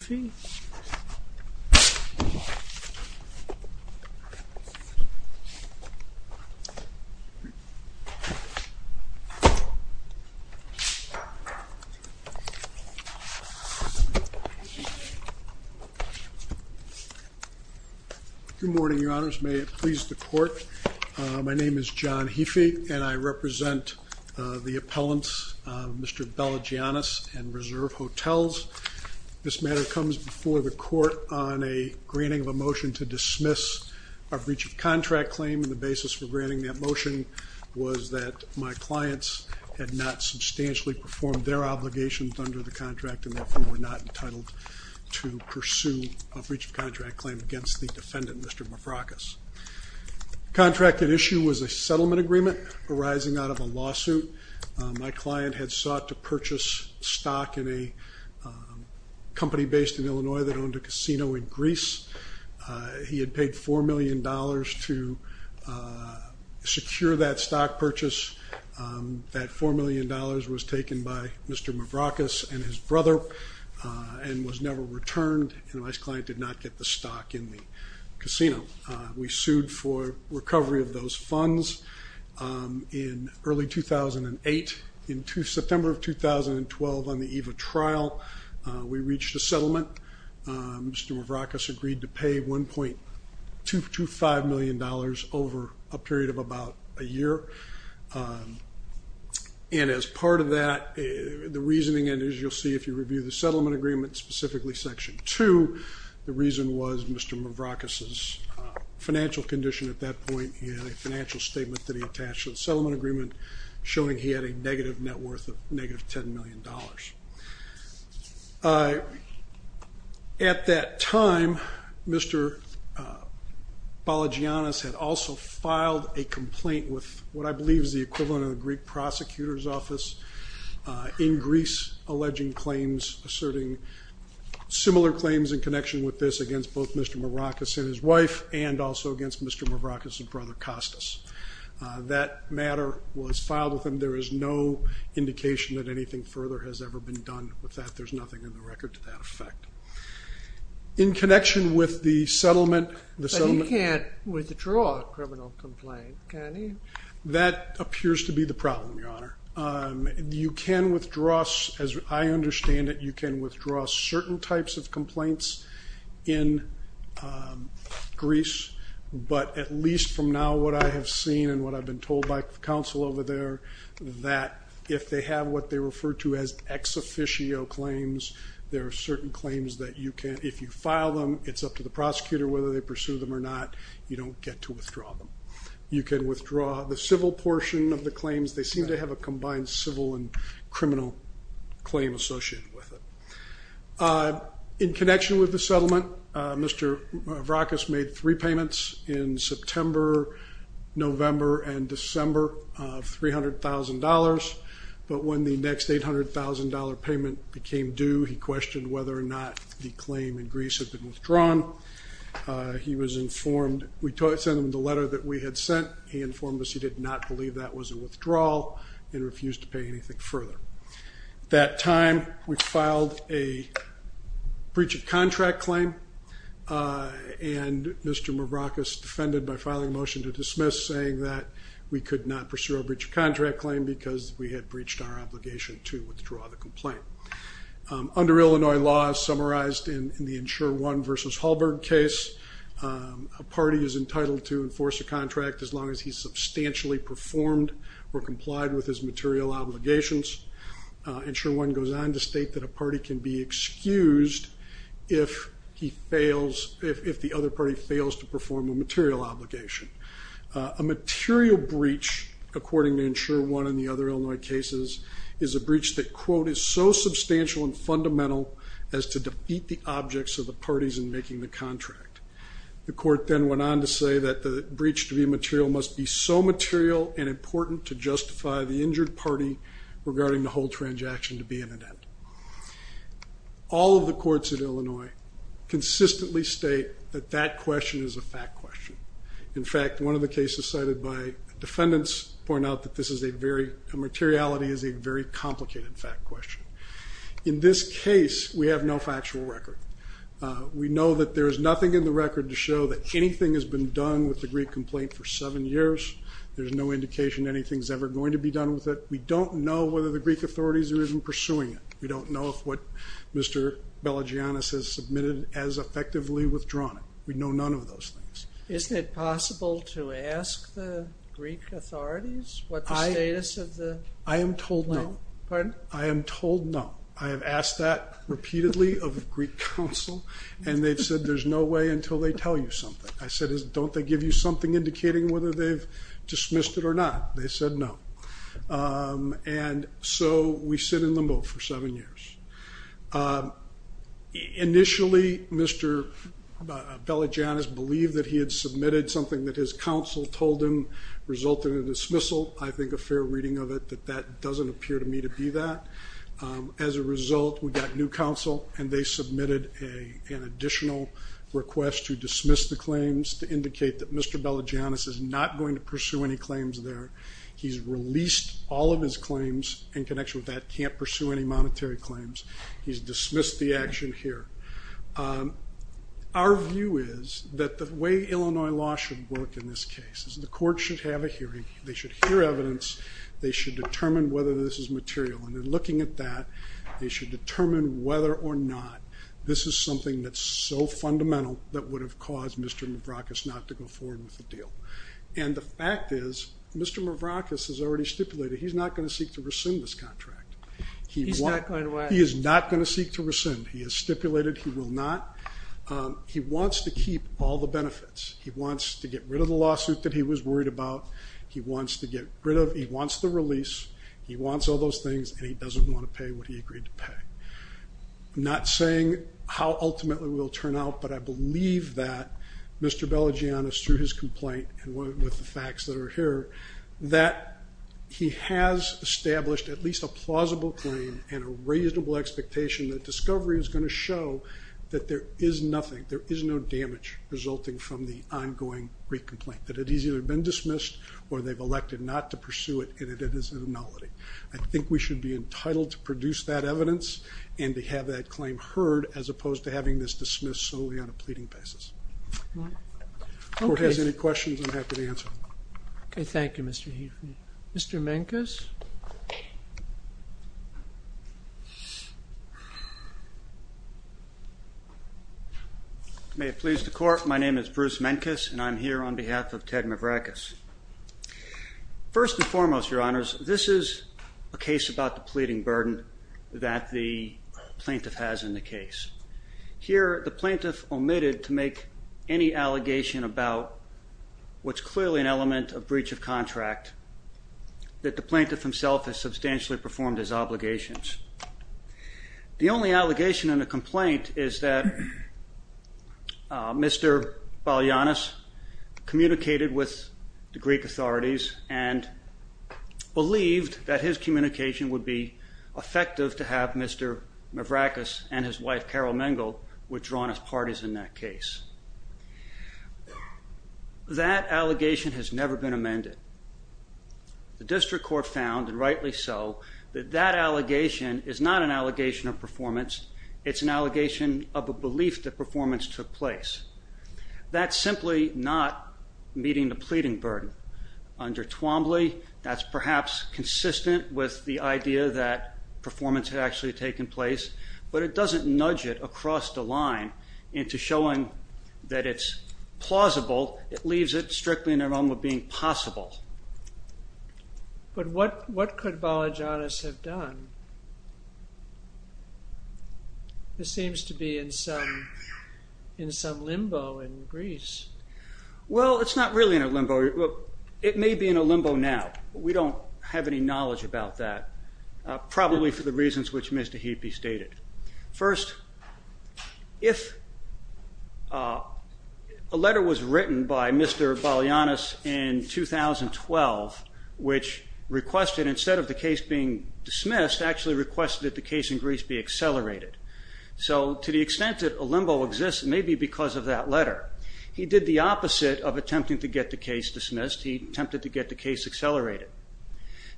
Good morning, Your Honors. May it please the Court. My name is John Heafey, and I represent the appellants Mr. Bellagiannis and Reserve Hotels. This matter comes before the court on a granting of a motion to dismiss a breach of contract claim and the basis for granting that motion was that my clients had not substantially performed their obligations under the contract and therefore were not entitled to pursue a breach of contract claim against the defendant, Mr. Mavrakis. Contract at issue was a settlement agreement arising out of a lawsuit. My client had sought to purchase stock in a company based in Illinois that owned a casino in Greece. He had paid four million dollars to secure that stock purchase. That four million dollars was taken by Mr. Mavrakis and his brother and was never returned and my client did not get the stock in the We sued for recovery of those funds in early 2008. In September of 2012 on the EVA trial, we reached a settlement. Mr. Mavrakis agreed to pay 1.25 million dollars over a period of about a year and as part of that, the reasoning and as you'll see if you review the settlement agreement specifically section 2, the reason was Mr. Mavrakis's financial condition at that point. He had a financial statement that he attached to the settlement agreement showing he had a negative net worth of negative 10 million dollars. At that time, Mr. Balogiannis had also filed a complaint with what I believe is the equivalent of similar claims in connection with this against both Mr. Mavrakis and his wife and also against Mr. Mavrakis and brother Kostas. That matter was filed with him. There is no indication that anything further has ever been done with that. There's nothing in the record to that effect. In connection with the settlement... But he can't withdraw a criminal complaint, can he? That appears to be the problem, Your Honor. You can withdraw, as I understand it, you can withdraw certain types of complaints in Greece, but at least from now what I have seen and what I've been told by the counsel over there, that if they have what they refer to as ex officio claims, there are certain claims that you can, if you file them, it's up to the prosecutor whether they pursue them or not, you don't get to withdraw them. You can withdraw the civil portion of the claims. They seem to have a combined civil and criminal claim associated with it. In connection with the settlement, Mr. Mavrakis made three payments in September, November, and December of $300,000, but when the next $800,000 payment became due, he questioned whether or not the claim in Greece had been withdrawn. He was informed... We sent him the letter that we had sent. He informed us he did not believe that was a withdrawal and refused to pay anything further. At that time, we filed a breach of contract claim and Mr. Mavrakis defended by filing a motion to dismiss, saying that we could not pursue a breach of contract claim because we had breached our obligation to withdraw the complaint. Under Illinois law, summarized in the Insure One versus Hallberg case, a party is entitled to perform or complied with his material obligations. Insure One goes on to state that a party can be excused if he fails, if the other party fails to perform a material obligation. A material breach, according to Insure One and the other Illinois cases, is a breach that, quote, is so substantial and fundamental as to defeat the objects of the parties in making the contract. The court then went on to say that the breach to be material must be so material and important to justify the injured party regarding the whole transaction to be in an event. All of the courts in Illinois consistently state that that question is a fact question. In fact, one of the cases cited by defendants point out that this is a very... materiality is a very complicated fact question. In this case, we have no factual record. We know that there is nothing in the record to show that anything has been done with the Greek complaint for seven years. There's no indication anything's ever going to be done with it. We don't know whether the Greek authorities are even pursuing it. We don't know if what Mr. Belagianis has submitted has effectively withdrawn it. We know none of those things. Isn't it possible to ask the Greek authorities what the status of the... I am told no. Pardon? I am told no. I have asked that repeatedly of the Greek counsel and they've said there's no way until they tell you something. I said don't they give you something indicating whether they've dismissed it or not? They said no. And so we sit in limbo for seven years. Initially, Mr. Belagianis believed that he had submitted something that his counsel told him resulted in a dismissal. I think a fair reading of it that that doesn't appear to me to be that. As a result, we got new counsel and they submitted an additional request to dismiss the claims to indicate that Mr. Belagianis is not going to pursue any claims there. He's released all of his claims in connection with that can't pursue any monetary claims. He's dismissed the action here. Our view is that the way Illinois law should work in this case is the court should have a hearing. They should hear evidence. They should determine whether this is material. And in looking at that, they should determine whether or not this is something that's so fundamental that would have caused Mr. Mavrakis not to go forward with the deal. And the fact is Mr. Mavrakis has already stipulated he's not going to seek to rescind this contract. He is not going to seek to rescind. He has stipulated he will not. He wants to keep all the benefits. He wants to get rid of the lawsuit that he was worried about. He wants to get rid of things and he doesn't want to pay what he agreed to pay. I'm not saying how ultimately will turn out, but I believe that Mr. Belagianis, through his complaint and with the facts that are here, that he has established at least a plausible claim and a reasonable expectation that discovery is going to show that there is nothing, there is no damage resulting from the ongoing re-complaint. That it has either been dismissed or they've elected not to be entitled to produce that evidence and to have that claim heard as opposed to having this dismissed solely on a pleading basis. If the court has any questions, I'm happy to answer them. Okay, thank you Mr. Heathley. Mr. Menkes? May it please the court, my name is Bruce Menkes and I'm here on behalf of Ted about the pleading burden that the plaintiff has in the case. Here the plaintiff omitted to make any allegation about what's clearly an element of breach of contract that the plaintiff himself has substantially performed his obligations. The only allegation in the complaint is that Mr. Belagianis communicated with the Greek authorities and believed that his communication would be effective to have Mr. Mavrakis and his wife Carol Mengel withdrawn as parties in that case. That allegation has never been amended. The district court found, and rightly so, that that allegation is not an allegation of performance, it's an allegation of a belief that performance took place. That simply not meeting the pleading burden. Under Twombly, that's perhaps consistent with the idea that performance had actually taken place, but it doesn't nudge it across the line into showing that it's plausible. It leaves it strictly in the realm of being possible. But what could Belagianis have done? This seems to be in some limbo in Greece. Well, it's not really in a limbo. It may be in a limbo now. We don't have any knowledge about that, probably for the reasons which Ms. Tahiti stated. First, if a letter was written by Mr. Belagianis in 2012 which requested, instead of the case being dismissed, actually requested that the case in Greece be accelerated. So to the extent that a limbo exists, maybe because of that letter, he did the opposite of attempting to get the case dismissed. He attempted to get the case accelerated.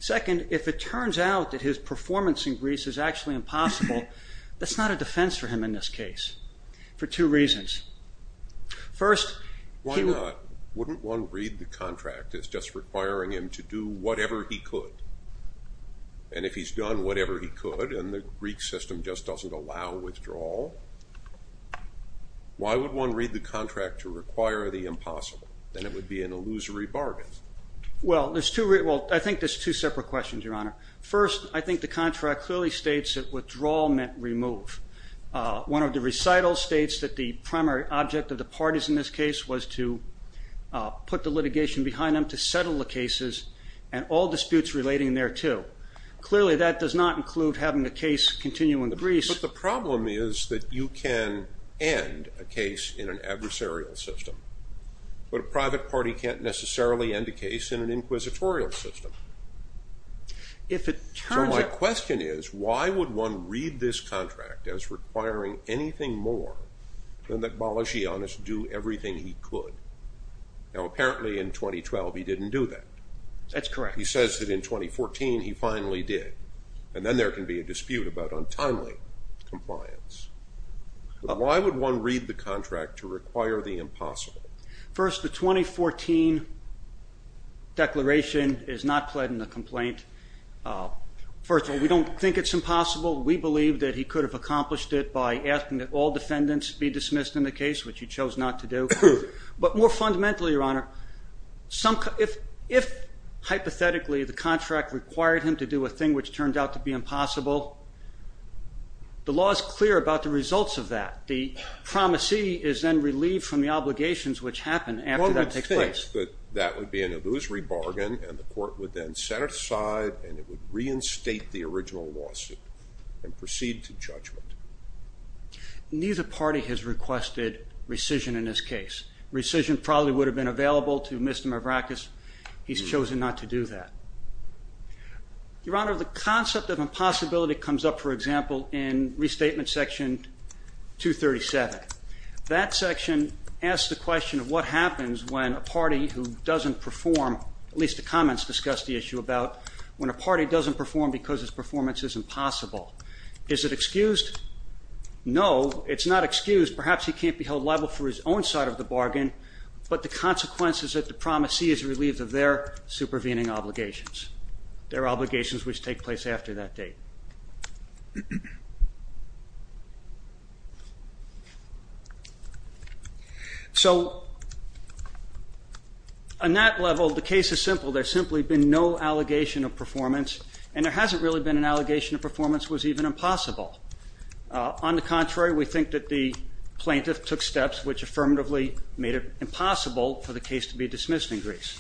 Second, if it turns out that his performance in Greece is actually impossible, that's not a defense for him in this case, for two reasons. First, Why not? Wouldn't one read the contract as just requiring him to do whatever he could? And if he's done whatever he could and the Greek system just doesn't allow withdrawal, why would one read the contract to require the impossible? Then it would be an illusory bargain. Well, I think there's two separate questions, Your Honor. First, I think the contract clearly states that withdrawal meant remove. One of the recitals states that the primary object of the parties in this case was to put the litigation behind them to settle the cases and all disputes relating thereto. Clearly, that does not include having the case continue in Greece. But the problem is that you can end a case in an adversarial system, but a private party can't necessarily end a case in an inquisitorial system. So my question is, why would one read this contract to require the impossible? First, the 2014 declaration is not pled in the complaint. First of all, we don't think it's impossible. We believe that he could have accomplished it by asking that all defendants be dismissed in the case, which he chose not to do. But more fundamentally, Your Honor, if hypothetically the contract required him to do a thing which turned out to be impossible, the law is clear about the results of that. The promisee is then relieved from the obligations which happen after that takes place. One would think that that would be an illusory bargain and the court would then set it aside and it would reinstate the original lawsuit and proceed to judgment. Neither party has requested rescission in this case. Rescission probably would have been available to Mr. Mavrakis. He's chosen not to do that. Your Honor, the concept of impossibility comes up, for example, in Restatement Section 237. That section asks the question of what happens when a party who doesn't perform, at least the party who does his performance, is impossible. Is it excused? No, it's not excused. Perhaps he can't be held liable for his own side of the bargain, but the consequence is that the promisee is relieved of their supervening obligations, their obligations which take place after that date. So on that level, the case is simple. There's simply been no allegation of performance was even impossible. On the contrary, we think that the plaintiff took steps which affirmatively made it impossible for the case to be dismissed in Greece.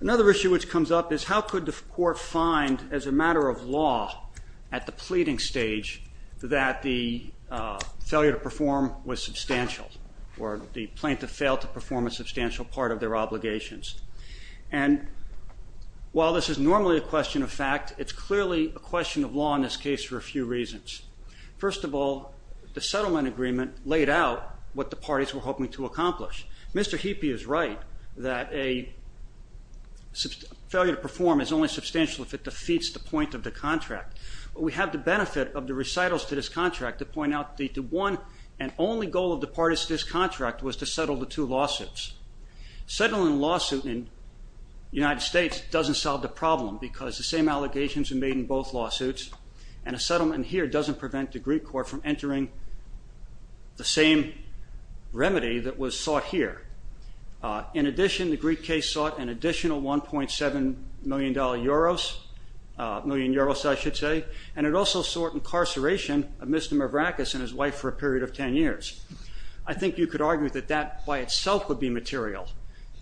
Another issue which comes up is how could the court find, as a matter of law, at the pleading stage that the failure to perform was substantial, or the plaintiff failed to perform a substantial part of their obligations. And while this is normally a question of fact, it's clearly a question of law in this case for a few reasons. First of all, the settlement agreement laid out what the parties were hoping to accomplish. Mr. Heapy is right that a failure to perform is only substantial if it defeats the point of the contract. We have the benefit of the recitals to this contract to point out that the one and to settle the two lawsuits. Settling a lawsuit in the United States doesn't solve the problem because the same allegations are made in both lawsuits, and a settlement here doesn't prevent the Greek court from entering the same remedy that was sought here. In addition, the Greek case sought an additional 1.7 million euros, and it also sought incarceration of Mr. Mavrakis and his wife for a period of 10 years. I think you could argue that that by itself would be material,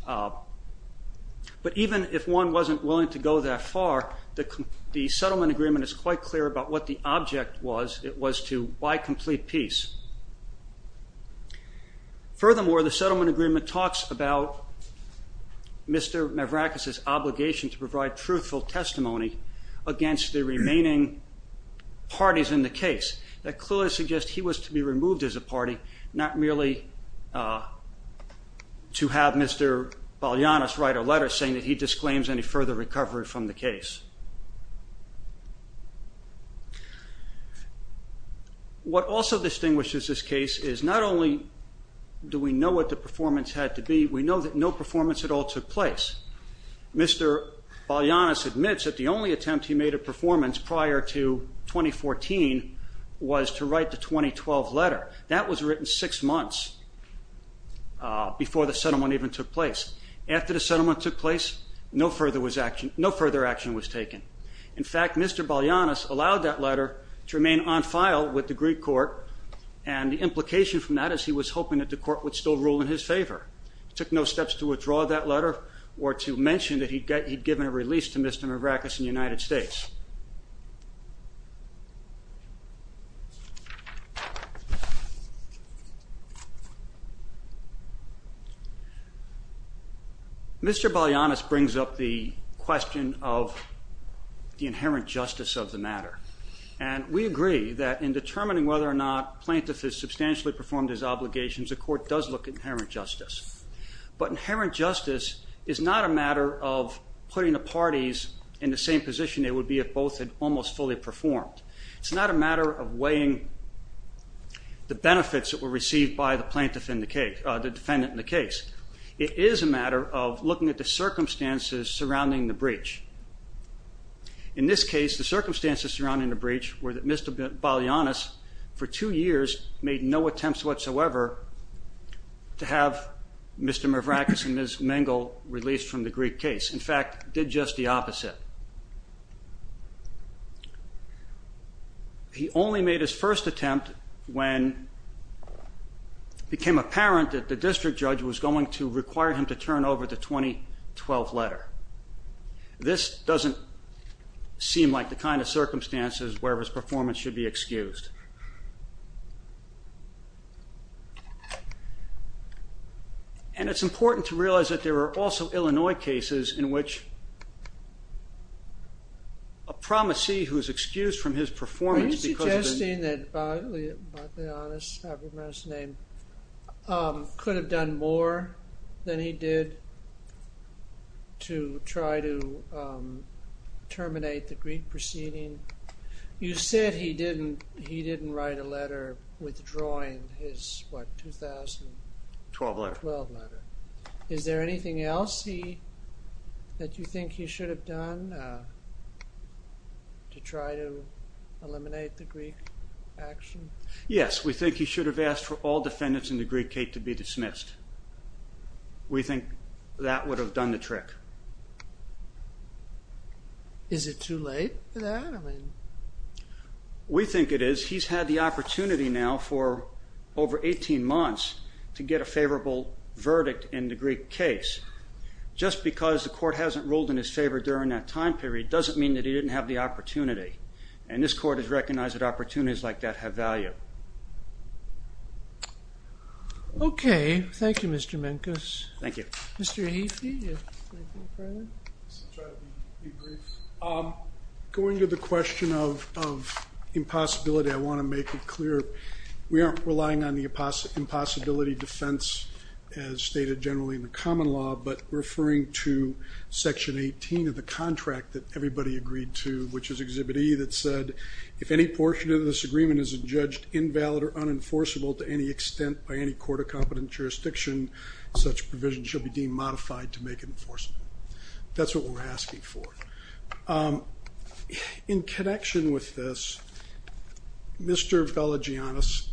but even if one wasn't willing to go that far, the settlement agreement is quite clear about what the object was. It was to buy complete peace. Furthermore, the settlement agreement talks about Mr. Mavrakis's obligation to provide truthful testimony against the remaining parties in the case. That clearly suggests he was to be removed as a party, not merely to have Mr. Balianas write a letter saying that he disclaims any further recovery from the case. What also distinguishes this case is not only do we know what the performance had to be, we know that no performance at all took place. Mr. Balianas admits that the 2012 letter, that was written six months before the settlement even took place. After the settlement took place, no further action was taken. In fact, Mr. Balianas allowed that letter to remain on file with the Greek court, and the implication from that is he was hoping that the court would still rule in his favor. He took no steps to withdraw that letter or to mention that he'd given a release to Mr. Mavrakis in the United States. Mr. Balianas brings up the question of the inherent justice of the matter, and we agree that in determining whether or not plaintiff has substantially performed his obligations, the court does look at inherent justice. But inherent justice is not a matter of putting the parties in the same position they would be if both had almost fully performed. It's not a matter of weighing the benefits that were received by the defendant in the case. It is a matter of looking at the circumstances surrounding the breach. In this case, the circumstances surrounding the breach were that Mr. Balianas for two years made no attempts whatsoever to have Mr. Mavrakis and Ms. Mengel released from the Greek case. In fact, did just the opposite. He only made his first attempt when it became apparent that the district judge was going to require him to turn over the 2012 letter. This doesn't seem like the kind of circumstances where his performance should be excused. And it's important to realize that there are also cases in which a promisee who is excused from his performance because of the... Are you suggesting that Balianas, I forget his name, could have done more than he did to try to terminate the Greek proceeding? You said he didn't write a letter withdrawing his, what, 2012 letter. Is there anything else that you think he should have done to try to eliminate the Greek action? Yes, we think he should have asked for all defendants in the Greek case to be dismissed. We think that would have done the trick. Is it too late for that? We think it is. He's had the opportunity now for over 18 months to get a favorable verdict in the Greek case. Just because the court hasn't ruled in his favor during that time period doesn't mean that he didn't have the opportunity. And this court has recognized that opportunities like that have value. Okay, thank you Mr. Menkes. Thank you. Going to the question of impossibility, I want to make it clear we aren't relying on the impossibility defense as stated generally in the common law, but referring to Section 18 of the contract that everybody agreed to, which is Exhibit E, that said, if any portion of this agreement is adjudged invalid or unenforceable to any extent by any court of competent jurisdiction, such provision shall be deemed modified to make it enforceable. That's what we're asking for. In connection with this, Mr. Velagiannis,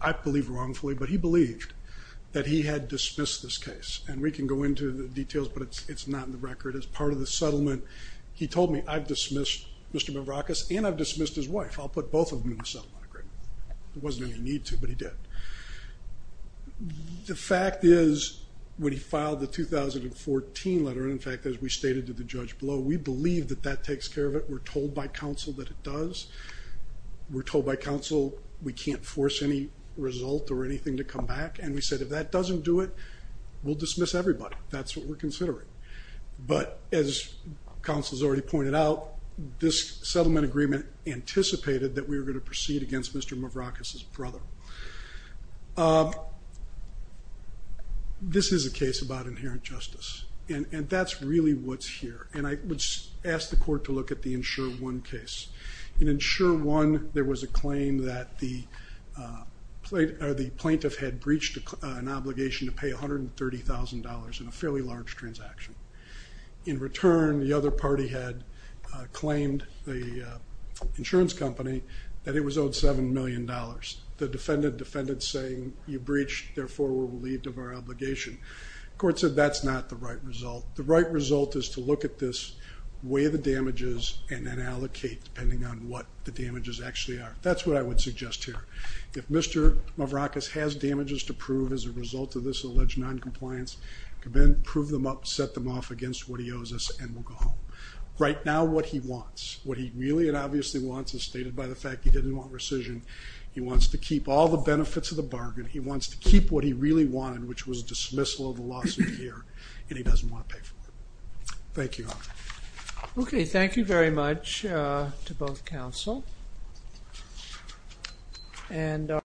I believe wrongfully, but he believed that he had dismissed this case. And we can go into the details, but it's not in the record. It's part of the settlement. He told me, I've dismissed Mr. Mavrakis and I've dismissed his wife. I'll put both of them in the settlement agreement. There wasn't any need to, but he did. The fact is, when he filed the 2014 letter, in fact, as we stated to the judge below, we believe that that takes care of it. We're told by counsel that it does. We're told by counsel we can't force any result or anything to come back. And we said, if that doesn't do it, we'll dismiss everybody. That's what we're considering. But as counsel has already pointed out, this settlement agreement anticipated that we were going to proceed against Mr. Mavrakis' brother. This is a case about inherent justice. And that's really what's here. And I would ask the court to look at the Insure One case. In Insure One, there was a claim that the plaintiff had breached an obligation to pay $130,000 in a fairly large transaction. In return, the other party had claimed the insurance company that it was owed $7 million. The defendant defended saying, you breached, therefore we're relieved of our obligation. The court said that's not the right result. The right result is to look at this, weigh the damages, and then allocate, depending on what the damages actually are. That's what I would suggest here. If Mr. Mavrakis has damages to prove as a result of this alleged noncompliance, prove them up, set them off against what he owes us, and we'll go home. Right now, what he wants, what he really and obviously wants, is stated by the fact he didn't want rescission. He wants to keep all the benefits of the bargain. He wants to keep what he really wanted, which was dismissal of the lawsuit here. And he doesn't want to pay for that. Thank you. Okay, thank you very much to both counsel.